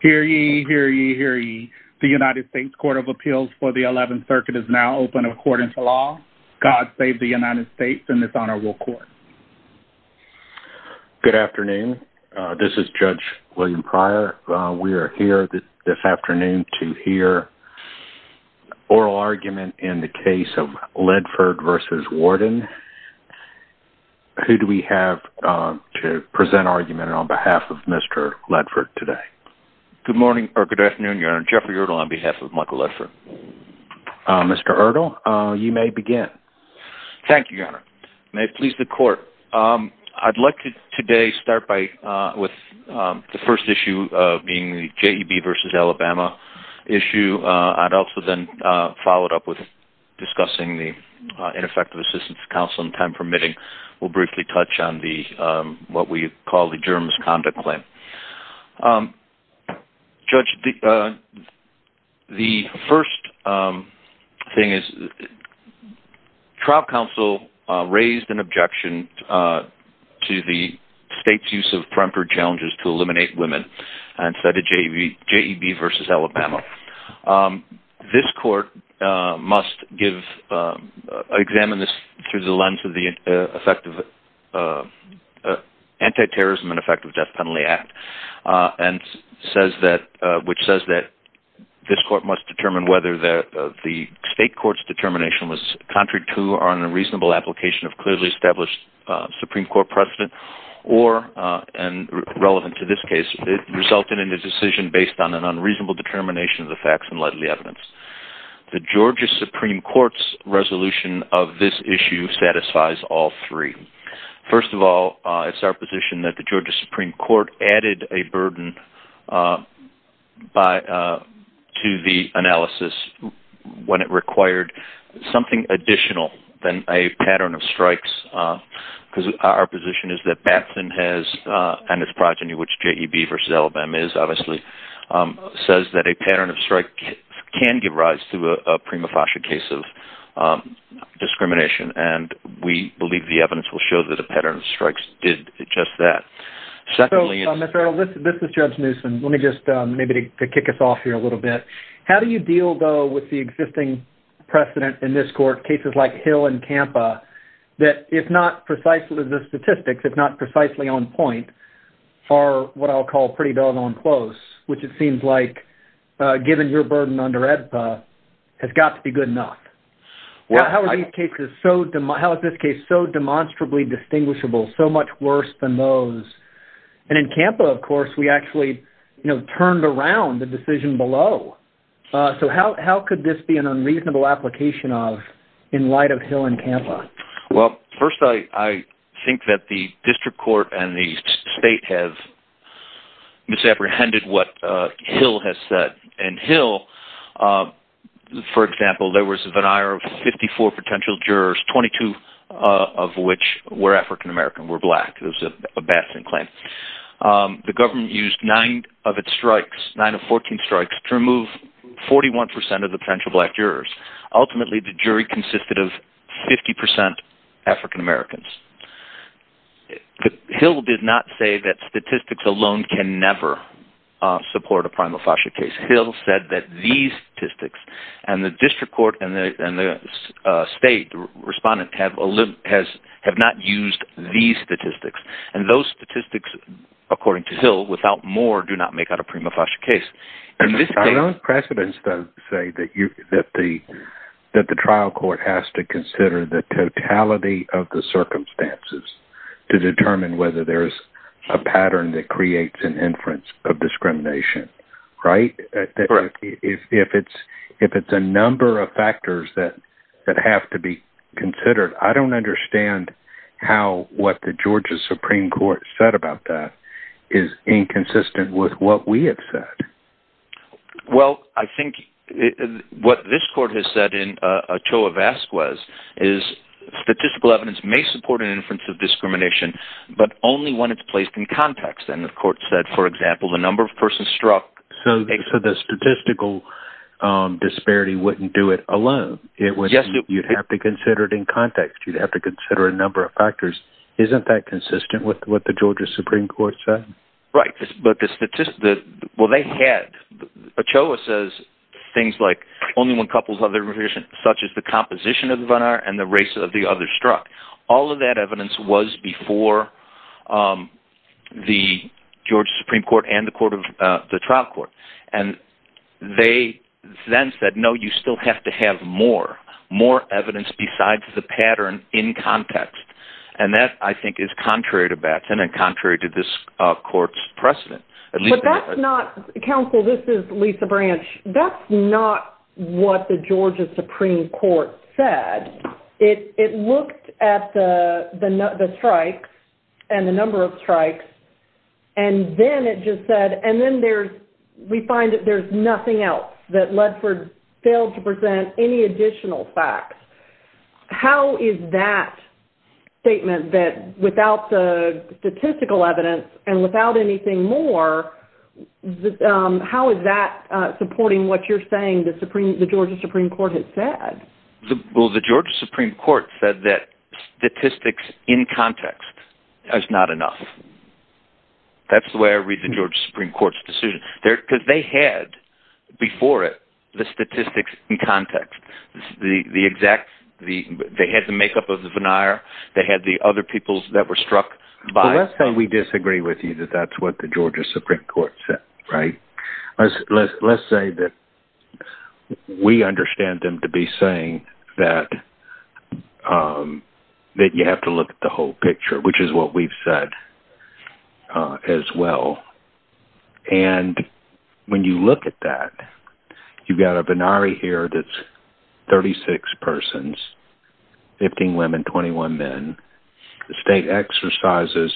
Hear ye, hear ye, hear ye. The United States Court of Appeals for the 11th Circuit is now open according to law. God save the United States and this honorable court. Good afternoon. This is Judge William Pryor. We are here this afternoon to hear oral argument in the case of Ledford v. Warden. Who do we have to present argument on behalf of Mr. Ledford today? Good morning, or good afternoon, Your Honor. Jeffrey Erdl on behalf of Michael Ledford. Mr. Erdl, you may begin. Thank you, Your Honor. May it please the court. I'd like to today start with the first issue being the JEB v. Alabama issue. I'd also then follow it up with discussing the ineffective assistance counsel in time permitting. We'll briefly touch on what we call the Germans' conduct claim. Judge, the first thing is trial counsel raised an objection to the state's use of peremptory challenges to eliminate women and said a JEB v. Alabama. This court must give, examine this through the lens of the effective anti-terrorism and effective death penalty act and says that, which says that this court must determine whether the state court's determination was contrary to or on a reasonable application of clearly established Supreme Court precedent or, and relevant to this case, it resulted in a decision based on an unreasonable determination of the facts and likely evidence. The Georgia Supreme Court's resolution of this issue satisfies all three. First of all, it's our position that the Georgia Supreme Court added a burden to the analysis when it required something additional than a pattern of strikes because our position is that Batson has, and his progeny, which JEB v. Alabama is obviously, says that a pattern of strike can give rise to a prima facie case of discrimination and we believe the evidence will show that a pattern of strikes did just that. So, Mr. Arnold, this is Judge Newsom. Let me just maybe kick us off here a little bit. How do you deal though with the existing precedent in this that, if not precisely the statistics, if not precisely on point, are what I'll call pretty doggone close, which it seems like, given your burden under AEDPA, has got to be good enough. Well, how are these cases so, how is this case so demonstrably distinguishable, so much worse than those? And in CAMPA, of course, we actually, you know, turned around the decision below. So, how could this be an unreasonable application of, in light of Hill and CAMPA? Well, first, I think that the district court and the state have misapprehended what Hill has said, and Hill, for example, there was a veneer of 54 potential jurors, 22 of which were African-American, were black. It was a bashing claim. The government used 9 of its strikes, 9 of 14 strikes, to remove 41% of the potential black jurors. Ultimately, the jury consisted of 50% African-Americans. Hill did not say that statistics alone can never support a prima facie case. Hill said that these statistics, and those statistics, according to Hill, without more, do not make out a prima facie case. I don't know if precedents say that the trial court has to consider the totality of the circumstances to determine whether there's a pattern that creates an inference of discrimination, right? If it's a number of factors that have to be considered, I don't understand how what the Georgia Supreme Court said about that is inconsistent with what we have said. Well, I think what this court has said in Ochoa-Vasquez is statistical evidence may support an inference of discrimination, but only when it's placed in context. And the court said, for example, the number of persons struck... So the statistical disparity wouldn't do it alone. You'd have to consider it in context. You'd have to consider a number of factors. Isn't that consistent with what the Georgia Supreme Court said? Right, but the statistics... Well, they had... Ochoa says things like, only when couples of their revision, such as the composition of the one hour and the race of the other struck. All of that evidence was before the Georgia Supreme Court and the trial court. And they then said, no, you still have to have more, more evidence besides the pattern in context. And that, I think, is contrary to Batson and contrary to this court's precedent. But that's not... Counsel, this is Lisa Branch. That's not what the Georgia Supreme Court said. It looked at the strikes and the number of strikes, and then it just said... And then we find that there's nothing else, that Ledford failed to present any additional facts. How is that statement that without the statistical evidence and without anything more, how is that supporting what you're saying the Georgia Supreme Court had said? Well, the Georgia Supreme Court said that statistics in context is not enough. That's the way I read the Georgia Supreme Court's decision. Because they had, before it, the statistics in context. They had the makeup of the veneer. They had the other peoples that were struck by... Well, let's say we disagree with you that that's what the Georgia Supreme Court said, right? Let's say that we understand them to be saying that you have to look at the picture, which is what we've said as well. And when you look at that, you've got a venari here that's 36 persons, 15 women, 21 men. The state exercises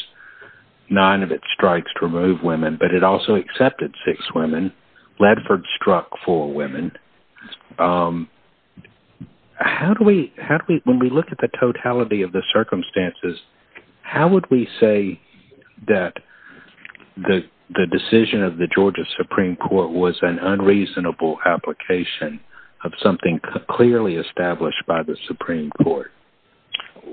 nine of its strikes to remove women, but it also accepted six women. Ledford struck four women. How do we... When we look at the circumstances, how would we say that the decision of the Georgia Supreme Court was an unreasonable application of something clearly established by the Supreme Court?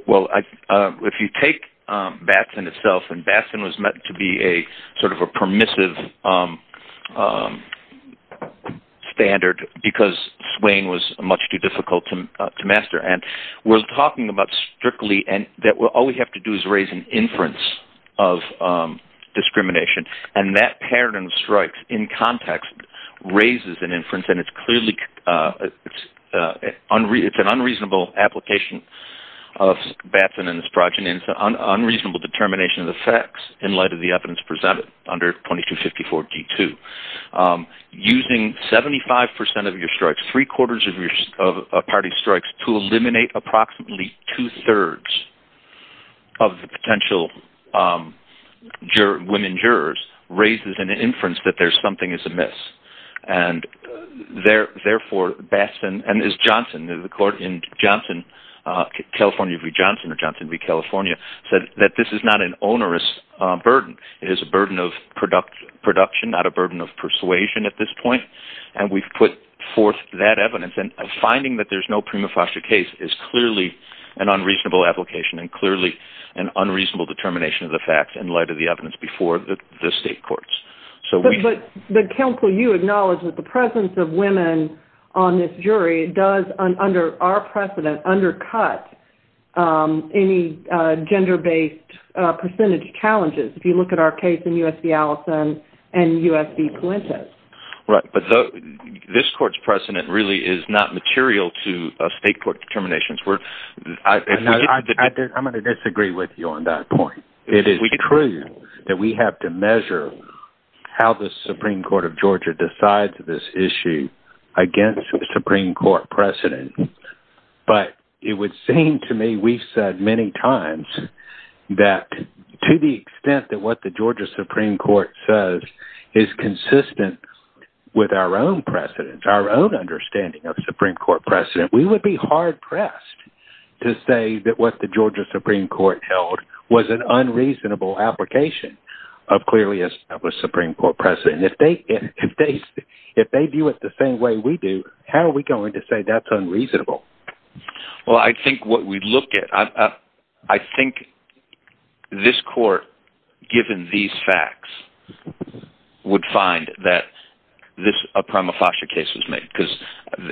Well, if you take Batson itself, and Batson was meant to be a sort of a permissive standard, because swaying was much too difficult to master. And we're talking about strictly, and that all we have to do is raise an inference of discrimination. And that paradigm of strikes in context raises an inference, and it's clearly... It's an unreasonable application of Batson and his progeny. It's an unreasonable determination of the facts in light of the Supreme Court D2. Using 75% of your strikes, three quarters of your party strikes to eliminate approximately two-thirds of the potential women jurors raises an inference that there's something is amiss. And therefore, Batson and his Johnson, the court in Johnson, California v. Johnson or persuasion at this point, and we've put forth that evidence. And finding that there's no prima facie case is clearly an unreasonable application and clearly an unreasonable determination of the facts in light of the evidence before the state courts. But counsel, you acknowledge that the presence of women on this jury does, under our precedent, undercut any gender-based percentage challenges, if you look at our case in U.S. v. Allison and U.S. v. Puente. Right. But this court's precedent really is not material to state court determinations. I'm going to disagree with you on that point. It is true that we have to measure how the Supreme Court of Georgia decides this issue against the Supreme Court precedent. But it would seem to me we've said many times that to the extent that what the Georgia Supreme Court says is consistent with our own precedent, our own understanding of the Supreme Court precedent, we would be hard-pressed to say that what the Georgia Supreme Court held was an unreasonable application of clearly established Supreme Court precedent. If they view it the same way we do, how are we going to say that's unreasonable? Well, I think what we look at, I think this court, given these facts, would find that a prima facie case was made. Because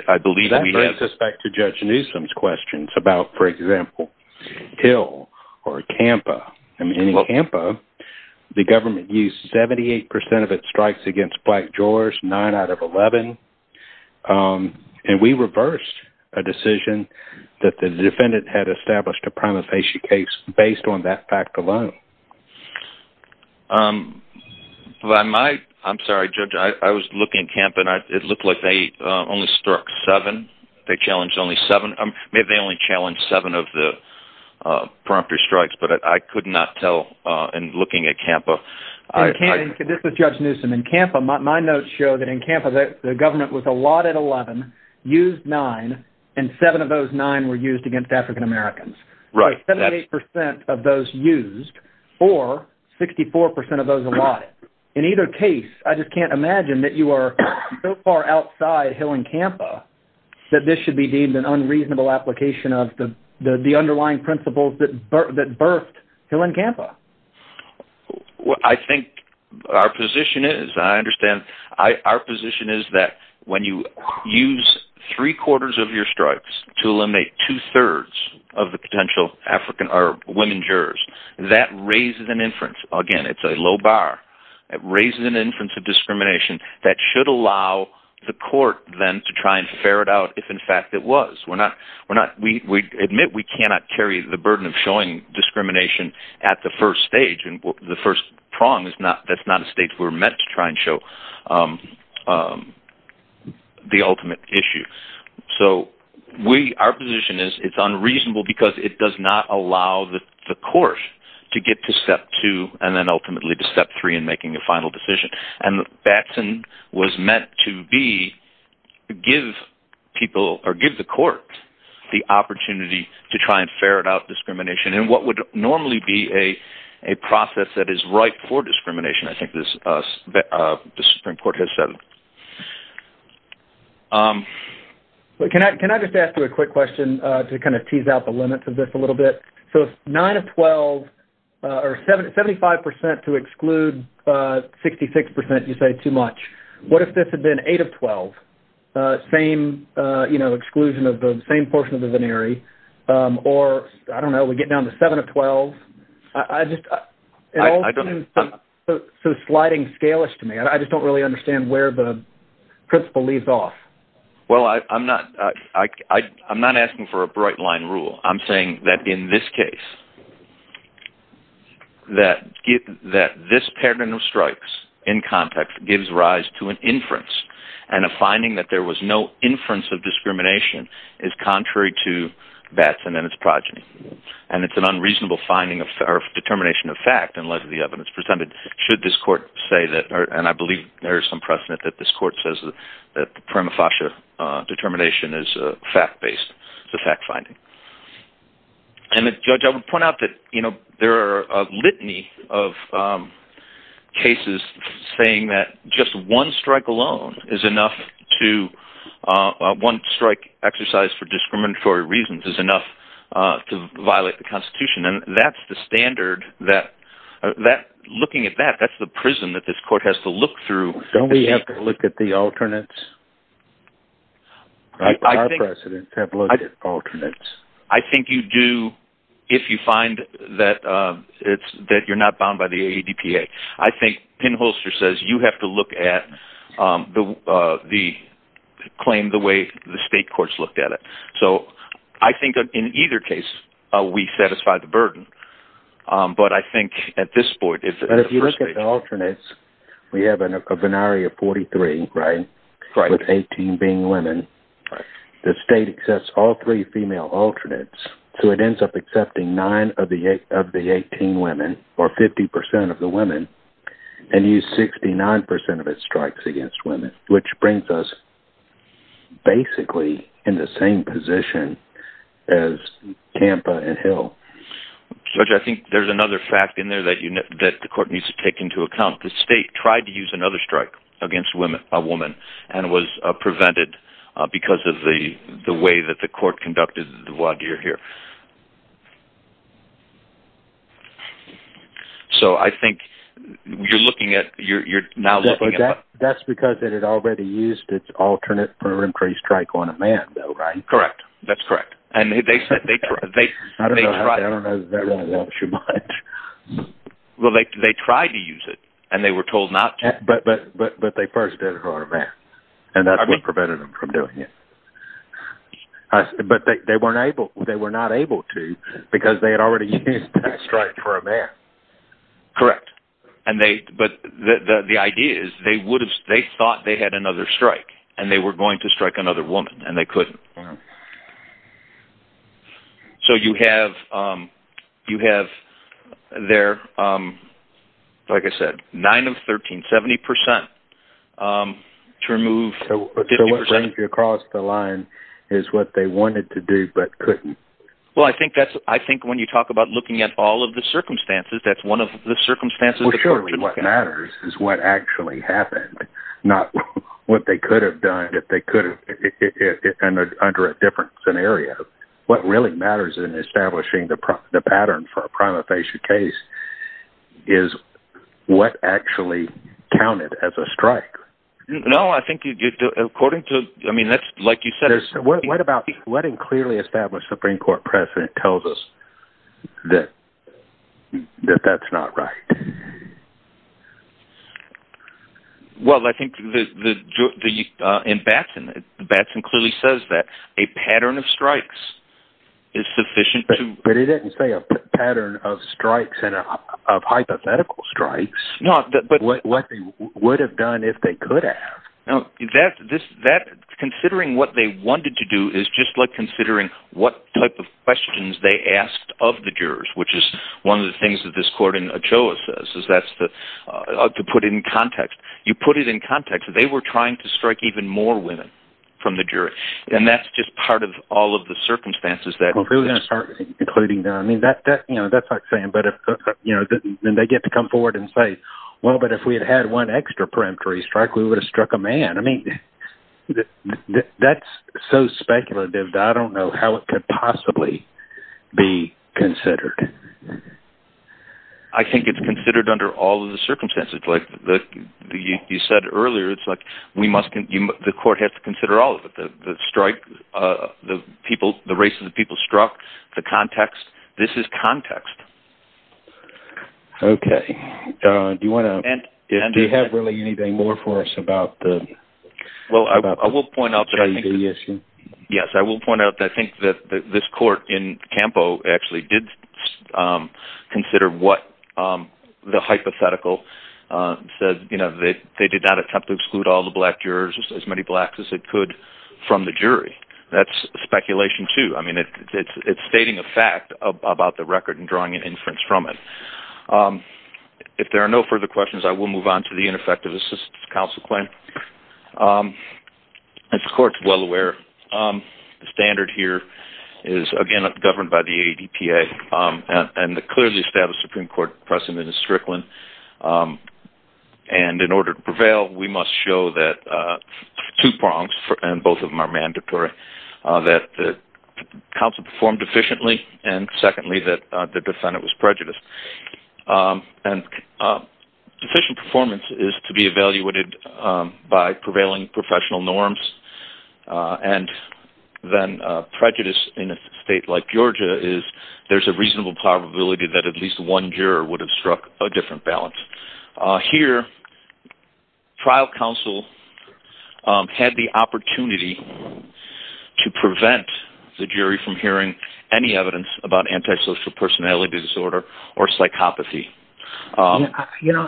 I believe we have... That brings us back to Judge Newsom's questions about, for example, Hill or Campo, the government used 78 percent of its strikes against black drawers, nine out of 11. And we reversed a decision that the defendant had established a prima facie case based on that fact alone. I'm sorry, Judge. I was looking at Campo, and it looked like they only struck seven. They challenged only seven. Maybe they only challenged seven of the strikes, but I could not tell in looking at Campo. This is Judge Newsom. In Campo, my notes show that in Campo, the government was allotted 11, used nine, and seven of those nine were used against African Americans. Right. So 78 percent of those used, or 64 percent of those allotted. In either case, I just can't imagine that you are so far outside Hill and Campo that this should be deemed an unreasonable application of the underlying principles that birthed Hill and Campo. I think our position is, I understand, our position is that when you use three-quarters of your strikes to eliminate two-thirds of the potential African or women jurors, that raises an inference. Again, it's a low bar. It raises an inference of discrimination that should allow the court then to try and ferret out if in fact it was. We admit we cannot carry the burden of showing discrimination at the first stage. The first prong, that's not a state we're meant to try and show the ultimate issue. So our position is it's unreasonable because it does not allow the court to get to step two and then ultimately to step three in what Batson was meant to be, give people or give the court the opportunity to try and ferret out discrimination and what would normally be a process that is ripe for discrimination. I think the Supreme Court has said. Can I just ask you a quick question to kind of tease out the limits of this a little bit? So nine of 12 or 75% to exclude 66% you say too much. What if this had been eight of 12, same exclusion of the same portion of the venery or I don't know, we get down to seven of 12. So sliding scalish to me. I just don't really understand where the principle leaves off. Well, I'm not asking for a bright line rule. I'm saying that in this case, that this pattern of strikes in context gives rise to an inference and a finding that there was no inference of discrimination is contrary to Batson and its progeny. And it's an unreasonable determination of fact unless the evidence presented should this court say that, and I determination is a fact based. It's a fact finding. And the judge, I would point out that, you know, there are a litany of cases saying that just one strike alone is enough to one strike exercise for discriminatory reasons is enough to violate the constitution. And that's the standard that that looking at that, that's the prism that this court has to look through. Don't we have to look at the alternates? Our precedents have looked at alternates. I think you do if you find that it's that you're not bound by the ADPA. I think pinholster says you have to look at the the claim the way the state courts looked at it. So I think in either case, we satisfy the burden. But I think at this point, if you look at the alternates, we have a binary of 43, right? With 18 being women, the state accepts all three female alternates. So it ends up accepting nine of the eight of the 18 women or 50% of the women and use 69% of its strikes against women, which brings us basically in the same position as Tampa and Hill. Judge, I think there's another fact in there that you know, that the court needs to take into account the state tried to use another strike against women, a woman and was prevented because of the the way that the court conducted the wadir here. So I think you're looking at you're now looking at that's because it had already used its alternate for increased strike on a man though, right? Correct. That's correct. And they said they I don't know. I don't know. Well, they tried to use it. And they were told not to but but but but they first did it for a man. And that prevented them from doing it. But they weren't able they were not able to because they had already used that strike for a man. Correct. And they but the the idea is they would have they thought they had another strike and they were going to strike another woman and they couldn't. So you have you have their like I said, nine of 1370% to remove the line is what they wanted to do but couldn't. Well, I think that's I think when you talk about looking at all of the circumstances, that's one of the circumstances. What matters is what actually happened. Not what they could have done if they could have under a different scenario. What really matters in establishing the the pattern for a prima facie case is what actually counted as a strike. No, I think according to I mean, that's like you said, what about letting clearly established Supreme Court precedent tells us that that's not right. Well, I think the the in Batson, Batson clearly says that a pattern of strikes is sufficient, but it didn't say a pattern of strikes and of hypothetical strikes, not that but what they would have done if they could have. Now that this that considering what they wanted to do is just like considering what type of questions they asked of the jurors, which is one of the things that this court in a choice is that's the to put in context, you put it in context, they were trying to strike even more women from the jury. And that's just part of all of the circumstances that we're going to start including them. I mean, that that, you know, that's like saying, but if, you know, then they get to come forward and say, Well, but if we had had one extra peremptory strike, we would have struck a man. I mean, that's so speculative. I don't know how it could possibly be considered. I think it's considered under all of the circumstances, like the, you said earlier, it's like, we must give the court has to consider all of the strike, the people, the race of the people struck the context. This is context. Okay. Do you want to do you have really anything more for us about the I will point out. Yes, I will point out that I think that this court in Campo actually did consider what the hypothetical said, you know, that they did not attempt to exclude all the black jurors as many blacks as it could from the jury. That's speculation to I mean, it's stating a fact about the record and drawing an inference from it. If there are no further questions, I will move on to the ineffective assistance counsel claim. Of course, well aware standard here is again governed by the EPA and the clearly established Supreme Court precedent is Strickland. And in order to prevail, we must show that two prongs and both of them are mandatory, that the council performed efficiently. And secondly, that the performance is to be evaluated by prevailing professional norms. And then prejudice in a state like Georgia is there's a reasonable probability that at least one juror would have struck a different balance here. Trial counsel had the opportunity to prevent the jury from hearing any evidence about antisocial personality disorder or psychopathy. Um, you know,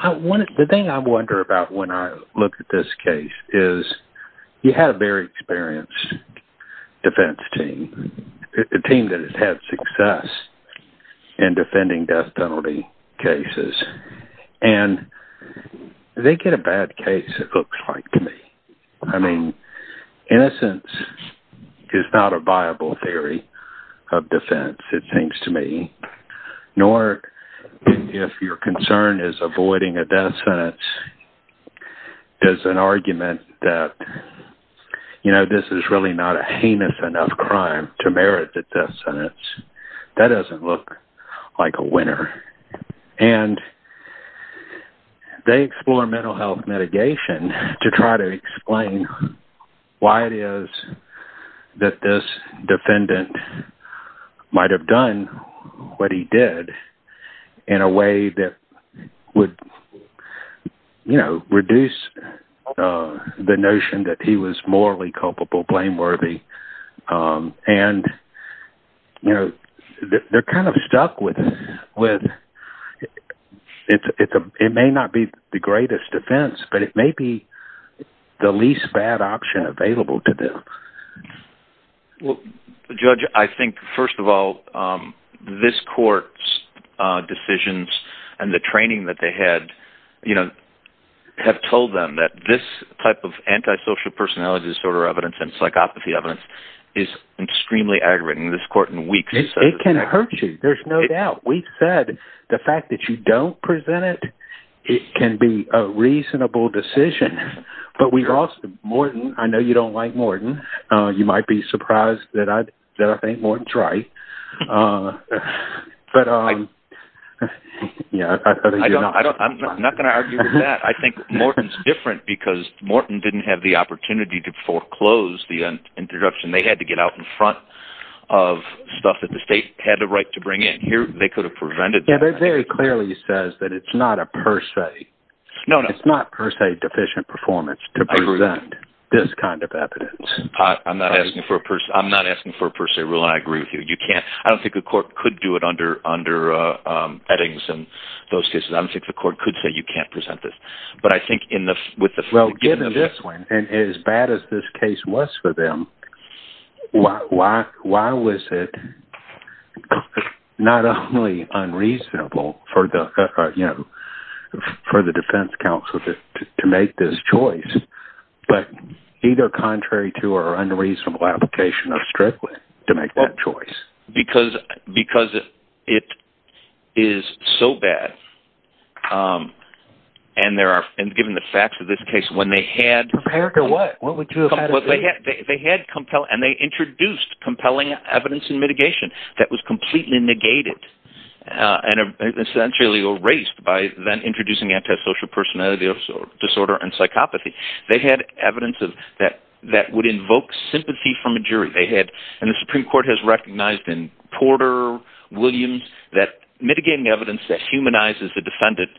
the thing I wonder about when I look at this case is you had a very experienced defense team, a team that has had success in defending death penalty cases. And they get a bad case. It looks like to me, I mean, innocence is not a viable theory of defense, it seems to me, nor if your concern is avoiding a death sentence, there's an argument that, you know, this is really not a heinous enough crime to merit the death sentence. That doesn't look like a winner. And they explore mental health mitigation to try to explain why it is that this defendant might have done what he did in a way that would, you know, reduce the notion that he was morally culpable, blameworthy. And, you know, they're kind of stuck with it. It may not be the greatest offense, but it may be the least bad option available to them. Well, Judge, I think, first of all, this court's decisions and the training that they had, you know, have told them that this type of antisocial personality disorder evidence and psychopathy evidence is extremely aggravating. This court in weeks... It can hurt you, there's no doubt. We've said the fact that you don't present it, it can be a reasonable decision. But we've also... Morton, I know you don't like Morton. You might be surprised that I think Morton's right. But, yeah, I thought he did not. I'm not going to argue with that. I think Morton's different because Morton didn't have the opportunity to foreclose the interruption. They had to get out in front of stuff that the state had the right to bring in here. They could have prevented that. It very clearly says that it's not a per se deficient performance to present this kind of evidence. I'm not asking for a per se rule, and I agree with you. I don't think the court could do it under Eddings and those cases. I don't think the court could say you can't present this. But I think with the... Given this one, and as bad as this case was for them, why was it not only unreasonable for the defense counsel to make this choice, but either contrary to our unreasonable application of Strickland to make that choice? Because it is so bad, and there are... And given the facts of this case, when they had... Prepared to what? What would you have had to do? They had compelling... And they introduced compelling evidence in mitigation that was completely negated and essentially erased by then introducing antisocial personality disorder and psychopathy. They had evidence that would invoke sympathy from a jury. They had... And the Supreme Court has recognized in Porter, Williams, that mitigating evidence that humanizes the defendant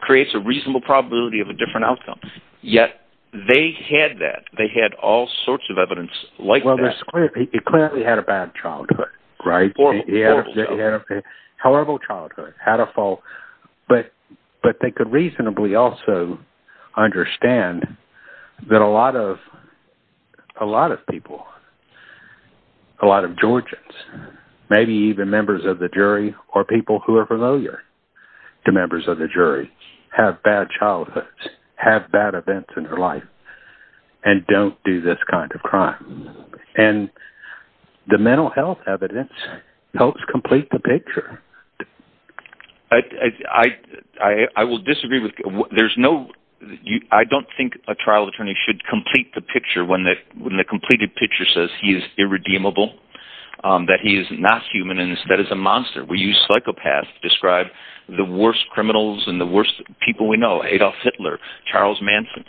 creates a reasonable probability of a different outcome. Yet, they had that. They had all sorts of evidence like that. Well, it clearly had a bad childhood, right? Horrible, horrible childhood. Horrible childhood. Had a fault. But they could reasonably also understand that a lot of people, a lot of Georgians, maybe even members of the jury or people who are familiar to members of the jury, have bad childhoods, have bad events in their life, and don't do this kind of crime. And the mental health evidence helps complete the picture. I will disagree with... There's no... I don't think a trial attorney should complete the he is irredeemable, that he is not human, and that is a monster. We use psychopaths to describe the worst criminals and the worst people we know, Adolf Hitler, Charles Manson.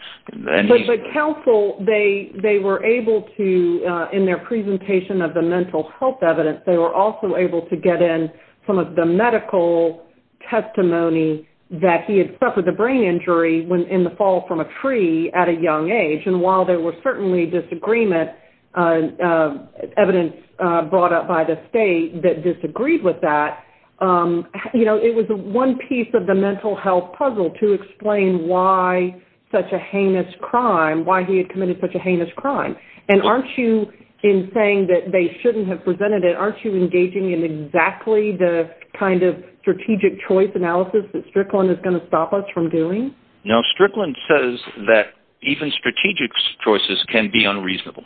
But counsel, they were able to, in their presentation of the mental health evidence, they were also able to get in some of the medical testimony that he had suffered a brain injury in the fall from a tree at a young age. And while there was certainly disagreement, evidence brought up by the state that disagreed with that, it was one piece of the mental health puzzle to explain why such a heinous crime, why he had committed such a heinous crime. And aren't you, in saying that they shouldn't have presented it, aren't you engaging in exactly the kind of strategic choice analysis that Strickland is going to stop us from doing? No, Strickland says that even strategic choices can be unreasonable.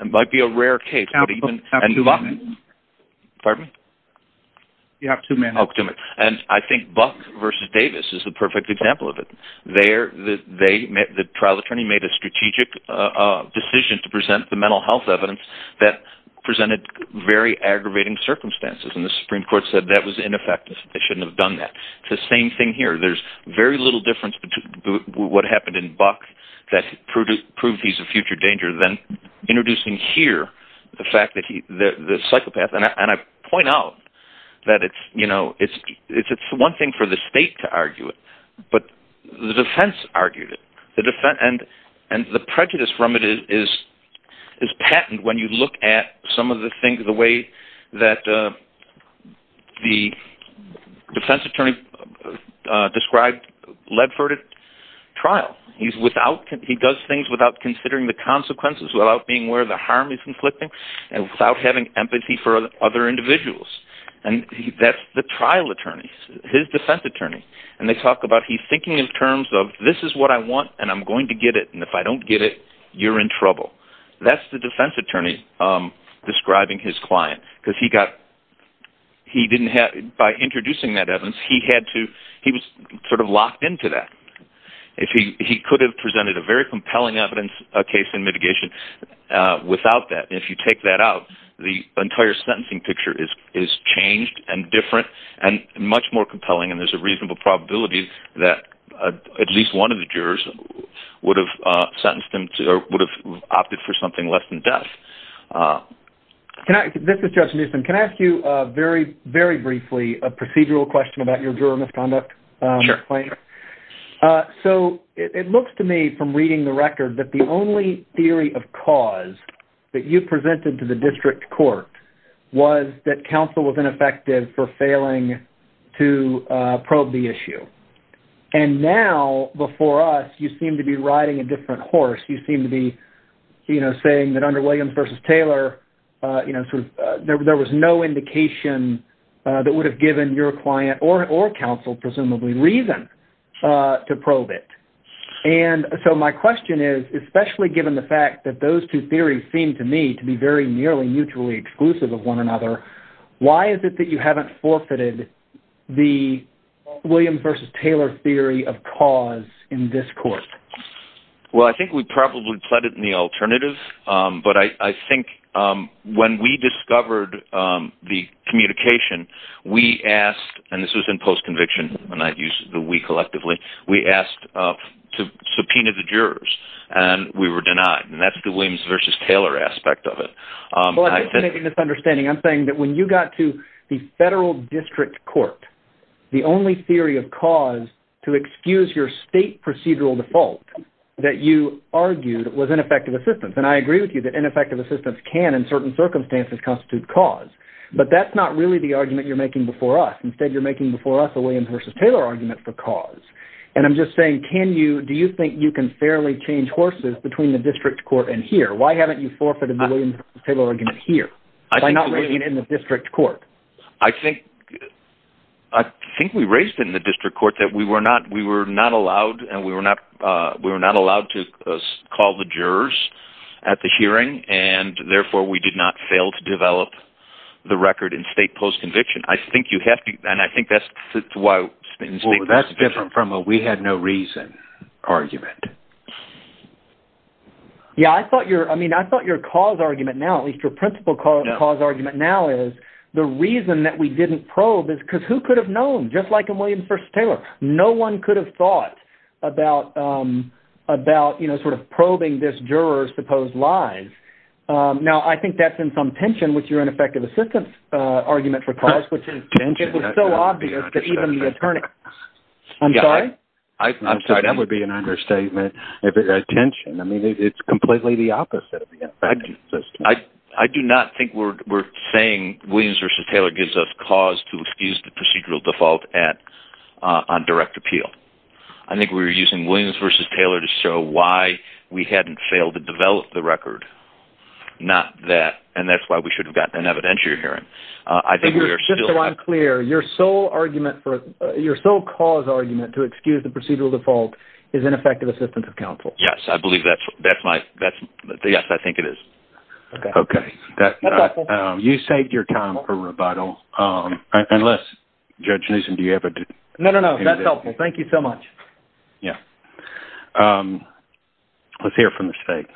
It might be a rare case. Pardon? You have two minutes. And I think Buck v. Davis is the perfect example of it. The trial attorney made a strategic decision to present the mental health evidence that presented very aggravating circumstances, and the Supreme Court said that was ineffective. They shouldn't have done that. It's the same thing here. There's very little difference between what happened in Buck that proved he's a future danger than introducing here the psychopath. And I point out that it's one thing for the state to argue it, but the defense argued it. And the prejudice from it is patent when you look at some of the things, the way that the defense attorney described Ledford at trial. He does things without considering the consequences, without being where the harm is conflicting, and without having empathy for other individuals. And that's the trial attorney, his defense attorney. And they talk about, he's thinking in terms of, this is I want, and I'm going to get it, and if I don't get it, you're in trouble. That's the defense attorney describing his client. Because he didn't have, by introducing that evidence, he had to, he was sort of locked into that. He could have presented a very compelling evidence, a case in mitigation, without that. If you take that out, the entire sentencing picture is changed and different and much more compelling, and there's a reasonable probability that at least one of the jurors would have sentenced him to, or would have opted for something less than death. This is Judge Newsom. Can I ask you very, very briefly a procedural question about your juror misconduct claim? Sure. So it looks to me from reading the record that the only theory of cause that you presented to the district court was that counsel was ineffective for failing to probe the issue. And now, before us, you seem to be riding a different horse. You seem to be saying that under Williams versus Taylor, there was no indication that would have given your client, or counsel presumably, reason to probe it. And so my question is, especially given the fact that those two theories seem to me to be very nearly mutually exclusive of one another, why is it that you in this court? Well, I think we probably pledged the alternative, but I think when we discovered the communication, we asked, and this was in post-conviction, and I use the we collectively, we asked to subpoena the jurors, and we were denied. And that's the Williams versus Taylor aspect of it. Well, I'm making a misunderstanding. I'm saying that when you got to the federal district court, the only theory of cause to excuse your state procedural default that you argued was ineffective assistance. And I agree with you that ineffective assistance can, in certain circumstances, constitute cause. But that's not really the argument you're making before us. Instead, you're making before us a Williams versus Taylor argument for cause. And I'm just saying, do you think you can fairly change horses between the district court and here? Why haven't you forfeited the Williams versus Taylor argument here by not bringing it in the district court? I think we raised in the district court that we were not allowed to call the jurors at the hearing, and therefore, we did not fail to develop the record in state post-conviction. I think you have to, and I think that's why... Well, that's different from a we had no reason argument. Yeah, I thought your cause argument now, at least your principle cause argument now is, the reason that we didn't probe is because who could have known? Just like a Williams versus Taylor, no one could have thought about probing this juror's supposed lies. Now, I think that's in some tension with your ineffective assistance argument for cause, which is so obvious that even the attorney... I'm sorry? I'm sorry. That would be an understatement. Tension. I mean, Williams versus Taylor gives us cause to excuse the procedural default on direct appeal. I think we were using Williams versus Taylor to show why we hadn't failed to develop the record, not that, and that's why we should have gotten an evidentiary hearing. I think we are still... Just so I'm clear, your sole argument for... Your sole cause argument to excuse the procedural default is ineffective assistance of counsel. Yes, I believe that's my... Yes, I think it is. Okay. That's helpful. You saved your time for rebuttal. Unless, Judge Newsom, do you have a... No, no, no. That's helpful. Thank you so much. Yeah. Let's hear it from the state.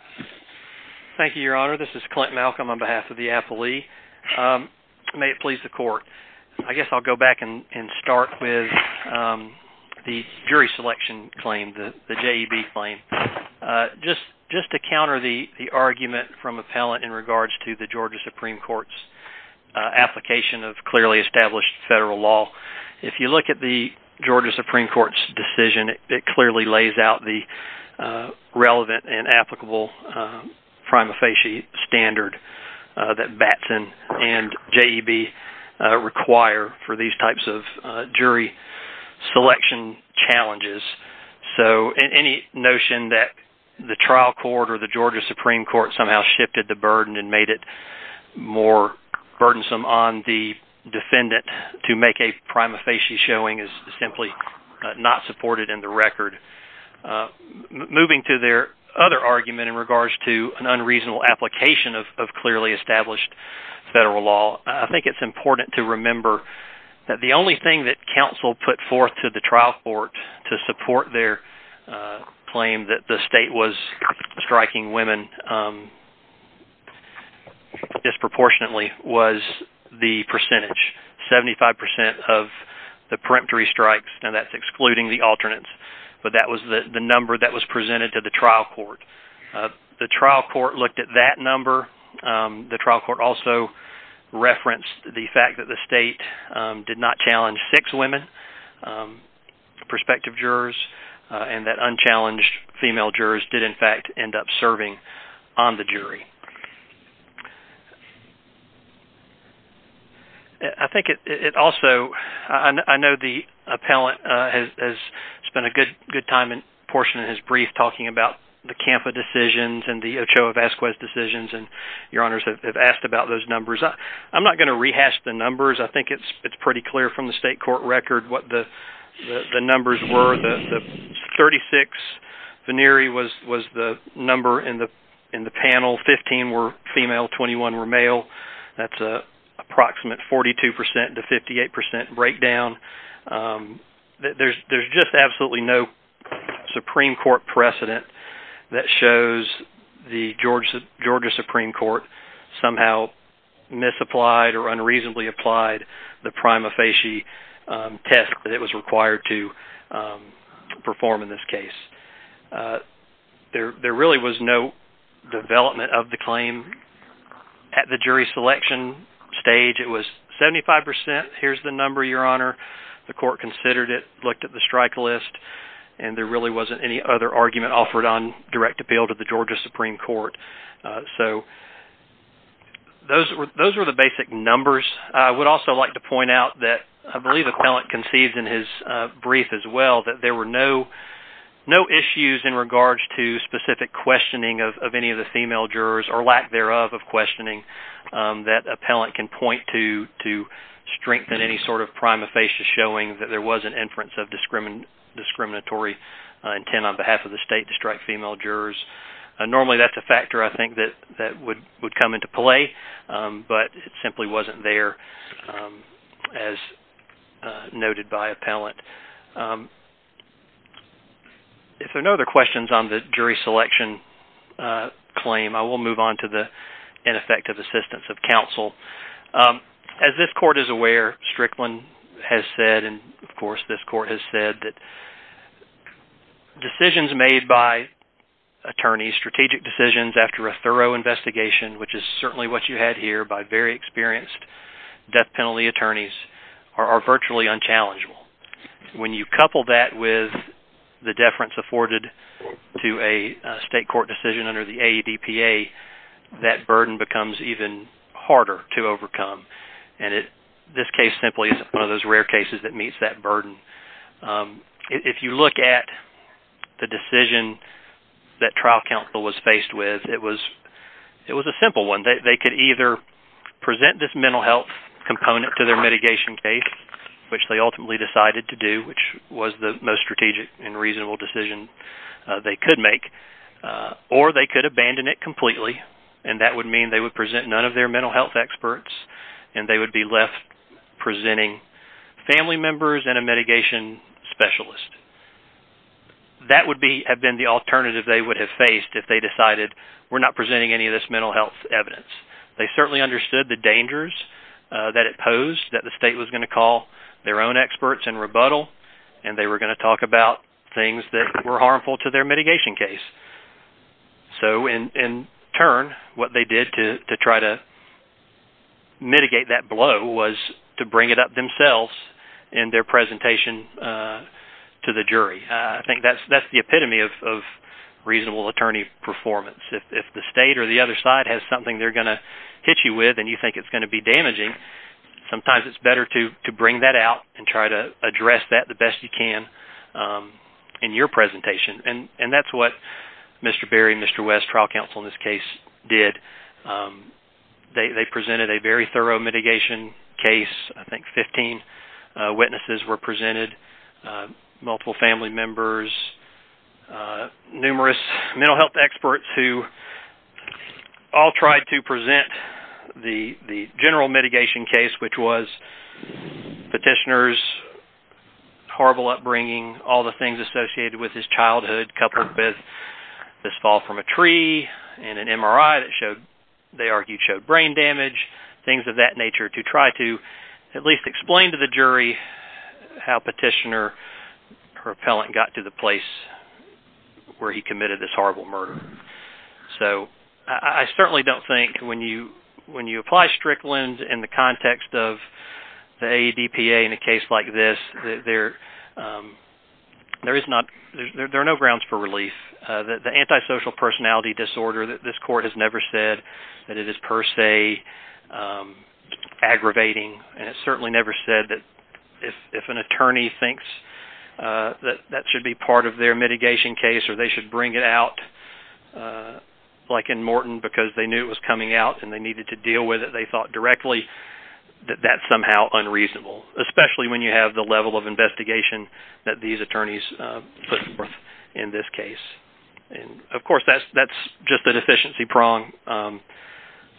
Thank you, Your Honor. This is Clint Malcolm on behalf of the appellee. May it please the court. I guess I'll go back and start with the jury selection claim, the JEB claim. Just to counter the argument from appellant in regards to the Georgia Supreme Court's application of clearly established federal law. If you look at the Georgia Supreme Court's decision, it clearly lays out the relevant and applicable prima facie standard that Batson and JEB require for these types of jury selection challenges. So any notion that the trial court or the Georgia Supreme Court somehow shifted the burden and made it more burdensome on the defendant to make a prima facie showing is simply not supported in the record. Moving to their other argument in regards to an unreasonable application of clearly established federal law, I think it's important to remember that the only thing that counsel put forth to the trial court to support their claim that the state was striking women disproportionately was the percentage, 75% of the peremptory strikes. Now that's excluding the alternates, but that was the number that was presented to the trial court. The trial court looked at that number. The trial court also referenced the fact that the state did not challenge six women prospective jurors and that unchallenged female jurors did in fact end up serving on the jury. I think it also, I know the appellant has spent a good time and portion of his brief talking about the CAMFA decisions and the Ochoa-Vasquez decisions and your honors have asked about those numbers. I'm not going to rehash the numbers. I think it's pretty clear from the state court record what the numbers were. The 36 venere was the number in the panel, 15 were female, 21 were male. That's a approximate 42% to 58% breakdown. There's just absolutely no Supreme Court precedent that shows the Georgia Supreme Court somehow misapplied or unreasonably applied the prima facie test that it was required to perform in this case. There really was no development of the claim at the jury selection stage. It was 75%. Here's the number, your honor. The court considered it, looked at the strike list, and there really wasn't any other argument offered on direct appeal to the Georgia Supreme Court. Those were the basic numbers. I would also like to point out that I believe appellant conceived in his brief as well that there were no issues in regards to specific questioning of any of the female jurors or lack thereof of questioning that appellant can point to strengthen any sort of prima facie showing that there was an inference of discriminatory intent on behalf of the state to strike female jurors. Normally that's a factor I think that would come into play but it simply wasn't there as noted by appellant. If there are no other questions on the jury selection claim, I will move on to the ineffective assistance of counsel. As this court is aware, Strickland has said and of course this court has said that decisions made by attorneys, strategic decisions after a thorough investigation, which is certainly what you had here by very experienced death penalty attorneys, are virtually unchallengeable. When you couple that with the deference afforded to a state court decision under the AEDPA, that burden becomes even harder to overcome. This case simply is one of those rare cases that meets that burden. If you look at the decision that trial counsel was faced with, it was a simple one. They could either present this mental health component to their mitigation case, which they ultimately decided to do, which was the most strategic and reasonable decision they could make, or they could abandon it completely. That would mean they would present none of their mental health experts and they would be left presenting family members and a mitigation specialist. That would have been the alternative they would have faced if they decided we're not presenting any of this mental health evidence. They certainly understood the dangers that it posed that the state was going to rebuttal and they were going to talk about things that were harmful to their mitigation case. So in turn, what they did to try to mitigate that blow was to bring it up themselves in their presentation to the jury. I think that's the epitome of reasonable attorney performance. If the state or the other side has something they're going to hit you with and you think it's going to be damaging, sometimes it's better to bring that out and try to address that the best you can in your presentation. That's what Mr. Berry and Mr. West, trial counsel in this case, did. They presented a very thorough mitigation case. I think 15 witnesses were presented, multiple family members, numerous mental health experts who all tried to present the general mitigation case, which was petitioner's horrible upbringing, all the things associated with his childhood, coupled with this fall from a tree and an MRI that showed, they argued, showed brain damage, things of that nature, to try to at least explain to the jury how petitioner or appellant got to the place where he committed this horrible murder. So, I certainly don't think when you apply Strickland in the context of the AEDPA in a case like this, there are no grounds for relief. The antisocial personality disorder, this court has never said that it is per se aggravating, and it's certainly never said that if an attorney thinks that that should be part of their mitigation case or they should bring it out, like in Morton, because they knew it was coming out and they needed to deal with it, they thought directly that that's somehow unreasonable, especially when you have the level of investigation that these attorneys put forth in this case. Of course, that's just a deficiency prong.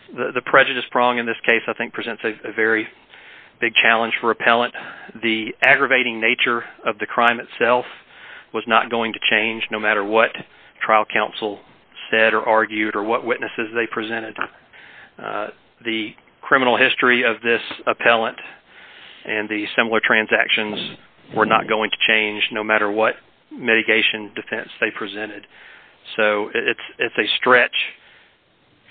The prejudice prong in this case, I think, presents a very big challenge for appellant. The aggravating nature of the crime itself was not going to change no matter what trial counsel said or argued or what witnesses they presented. The criminal history of this appellant and the similar transactions were not going to change no matter what mitigation defense they presented. So, it's a stretch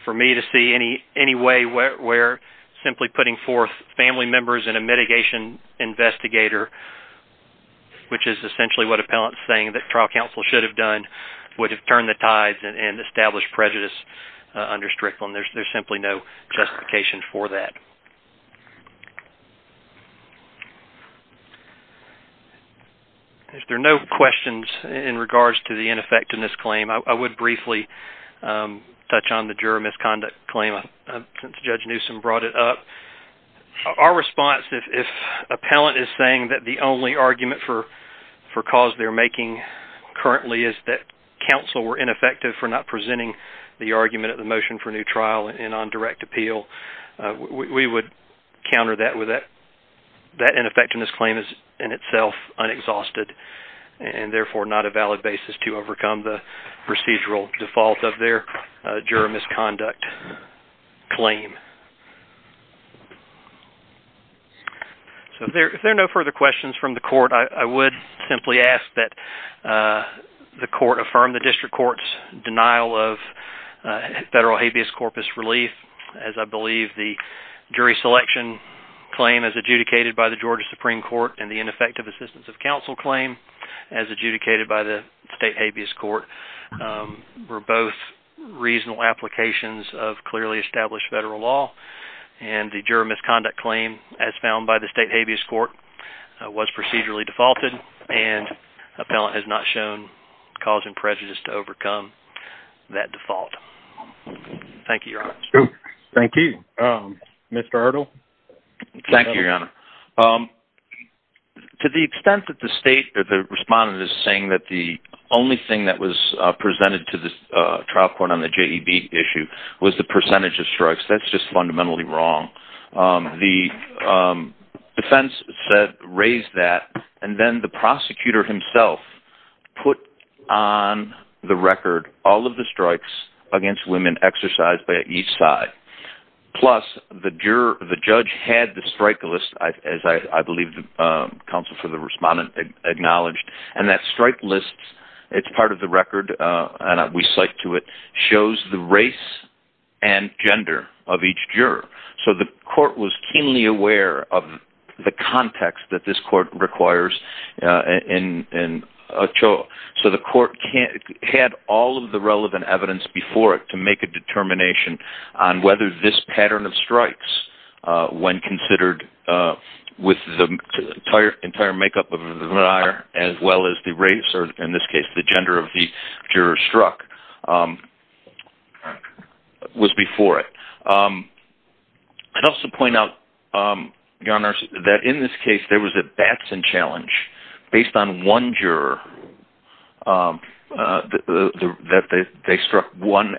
for me to see any way where simply putting forth family members in a mitigation investigator, which is essentially what appellant's saying that trial counsel should have done, would have turned the tides and established prejudice under Strickland. There's simply no justification for that. If there are no questions in regards to the ineffectiveness claim, I would briefly touch on the juror misconduct claim since Judge Newsom brought it up. Our response, if appellant is saying that the only argument for cause they're making currently is that counsel were ineffective for not presenting the argument at the motion for new trial and on direct appeal, we would counter that with that. That ineffectiveness claim is in itself unexhausted and therefore not a valid basis to overcome the procedural default of their misconduct claim. So, if there are no further questions from the court, I would simply ask that the court affirm the district court's denial of federal habeas corpus relief as I believe the jury selection claim as adjudicated by the Georgia Supreme Court and the ineffective assistance of counsel claim as adjudicated by the state habeas court were both reasonable applications of clearly established federal law and the juror misconduct claim as found by the state habeas court was procedurally defaulted and appellant has not shown cause and prejudice to extent that the state, the respondent is saying that the only thing that was presented to the trial court on the JEB issue was the percentage of strikes. That's just fundamentally wrong. The defense said, raised that and then the prosecutor himself put on the record all of the strikes against women exercised by each side. Plus, the juror, the judge had the strike list as I believe the counsel for the respondent acknowledged. And that strike list, it's part of the record and we cite to it, shows the race and gender of each juror. So, the court was keenly aware of the context that this court requires. So, the court had all of the relevant evidence before it to make a determination on whether this pattern of strikes when considered with the entire makeup of the liar as well as the race or in this case, the gender of the juror struck was before it. I'd also point out that in this case, there was a Batson challenge based on one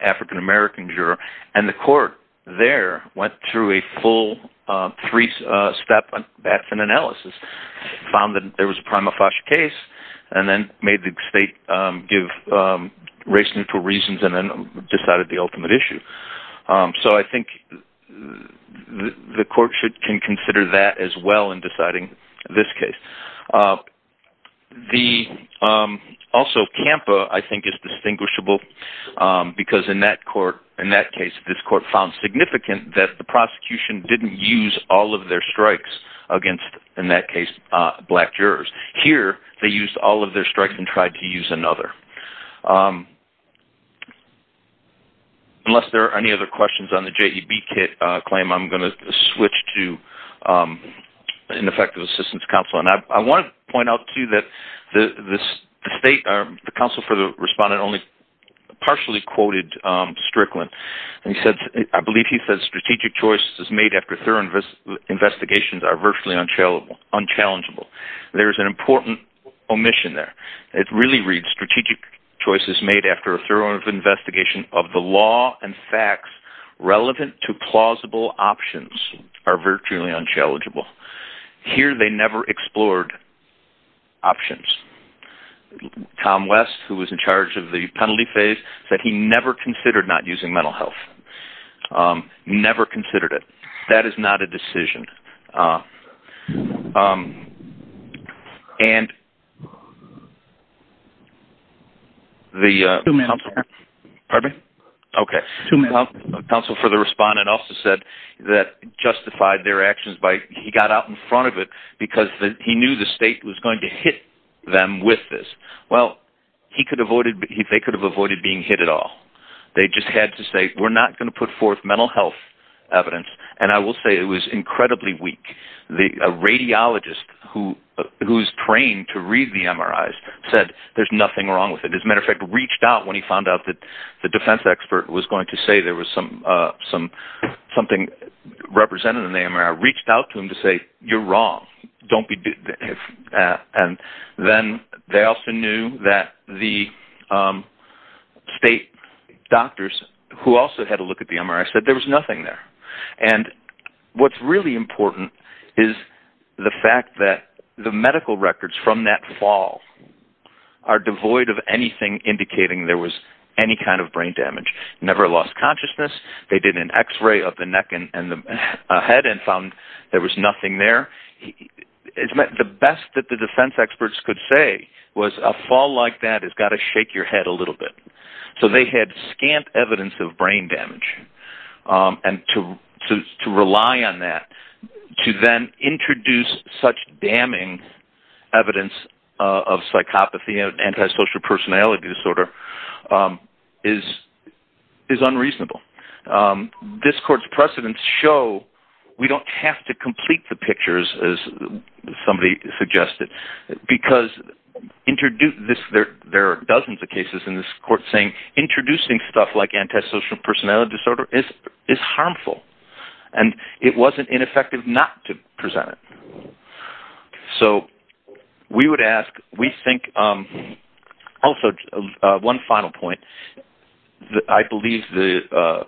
African-American juror and the court there went through a full three-step Batson analysis, found that there was a prima facie case and then made the state give race neutral reasons and then decided the ultimate issue. So, I think the court can consider that as in deciding this case. Also, CAMPA, I think is distinguishable because in that case, this court found significant that the prosecution didn't use all of their strikes against, in that case, black jurors. Here, they used all of their strikes and tried to use another. Unless there are any other questions on the JEB claim, I'm going to switch to an effective assistance counsel and I want to point out too that the state, the counsel for the respondent only partially quoted Strickland and he said, I believe he said, strategic choices made after thorough investigations are virtually unchallengeable. There's an important omission there. It really reads, strategic choices made after a thorough investigation of the law and facts relevant to plausible options are virtually unchallengeable. Here, they never explored options. Tom West, who was in charge of the penalty phase, said he never considered not to. The counsel for the respondent also said that justified their actions by, he got out in front of it because he knew the state was going to hit them with this. Well, he could have avoided, they could have avoided being hit at all. They just had to say, we're not going to put forth mental health evidence and I will say it was incredibly weak. A radiologist who's trained to read the MRIs said there's nothing wrong with it. As a matter of fact, reached out when he found out that the defense expert was going to say there was something represented in the MRI, reached out to him to say, you're wrong. Don't be, and then they also knew that the state doctors who also had a look at the MRI said there was nothing there. And what's really important is the fact that the medical records from that fall are devoid of anything indicating there was any kind of brain damage. Never lost consciousness. They did an x-ray of the neck and the head and found there was nothing there. The best that the defense experts could say was a fall like that has got to shake your head a little bit. So they had scant evidence of brain damage. And to rely on that, to then introduce such damning evidence of psychopathy and antisocial personality disorder is unreasonable. This court's precedents show we don't have to complete the pictures as somebody suggested, because there are dozens of cases in this court saying stuff like antisocial personality disorder is harmful and it wasn't ineffective not to present it. So we would ask, we think also one final point, I believe the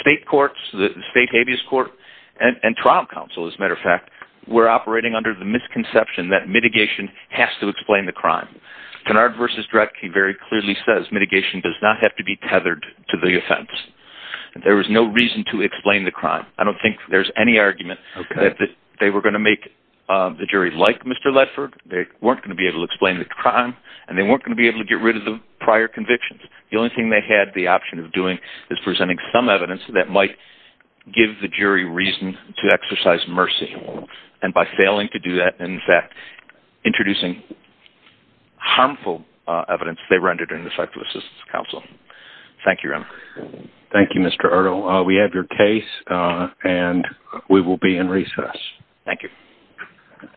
state courts, the state habeas court and trial counsel, as a matter of fact, were operating under the misconception that mitigation has to explain the crime. Kennard v. Dredge very clearly says mitigation does not have to be tethered to the offense. There was no reason to explain the crime. I don't think there's any argument that they were going to make the jury like Mr. Ledford. They weren't going to be able to explain the crime and they weren't going to be able to get rid of the prior convictions. The only thing they had the option of doing is presenting some evidence that might give the jury reason to exercise mercy. And by failing to do that, in fact, introducing harmful evidence, they rendered in the psychosis counsel. Thank you. Thank you, Mr. Erdo. We have your case and we will be in recess. Thank you.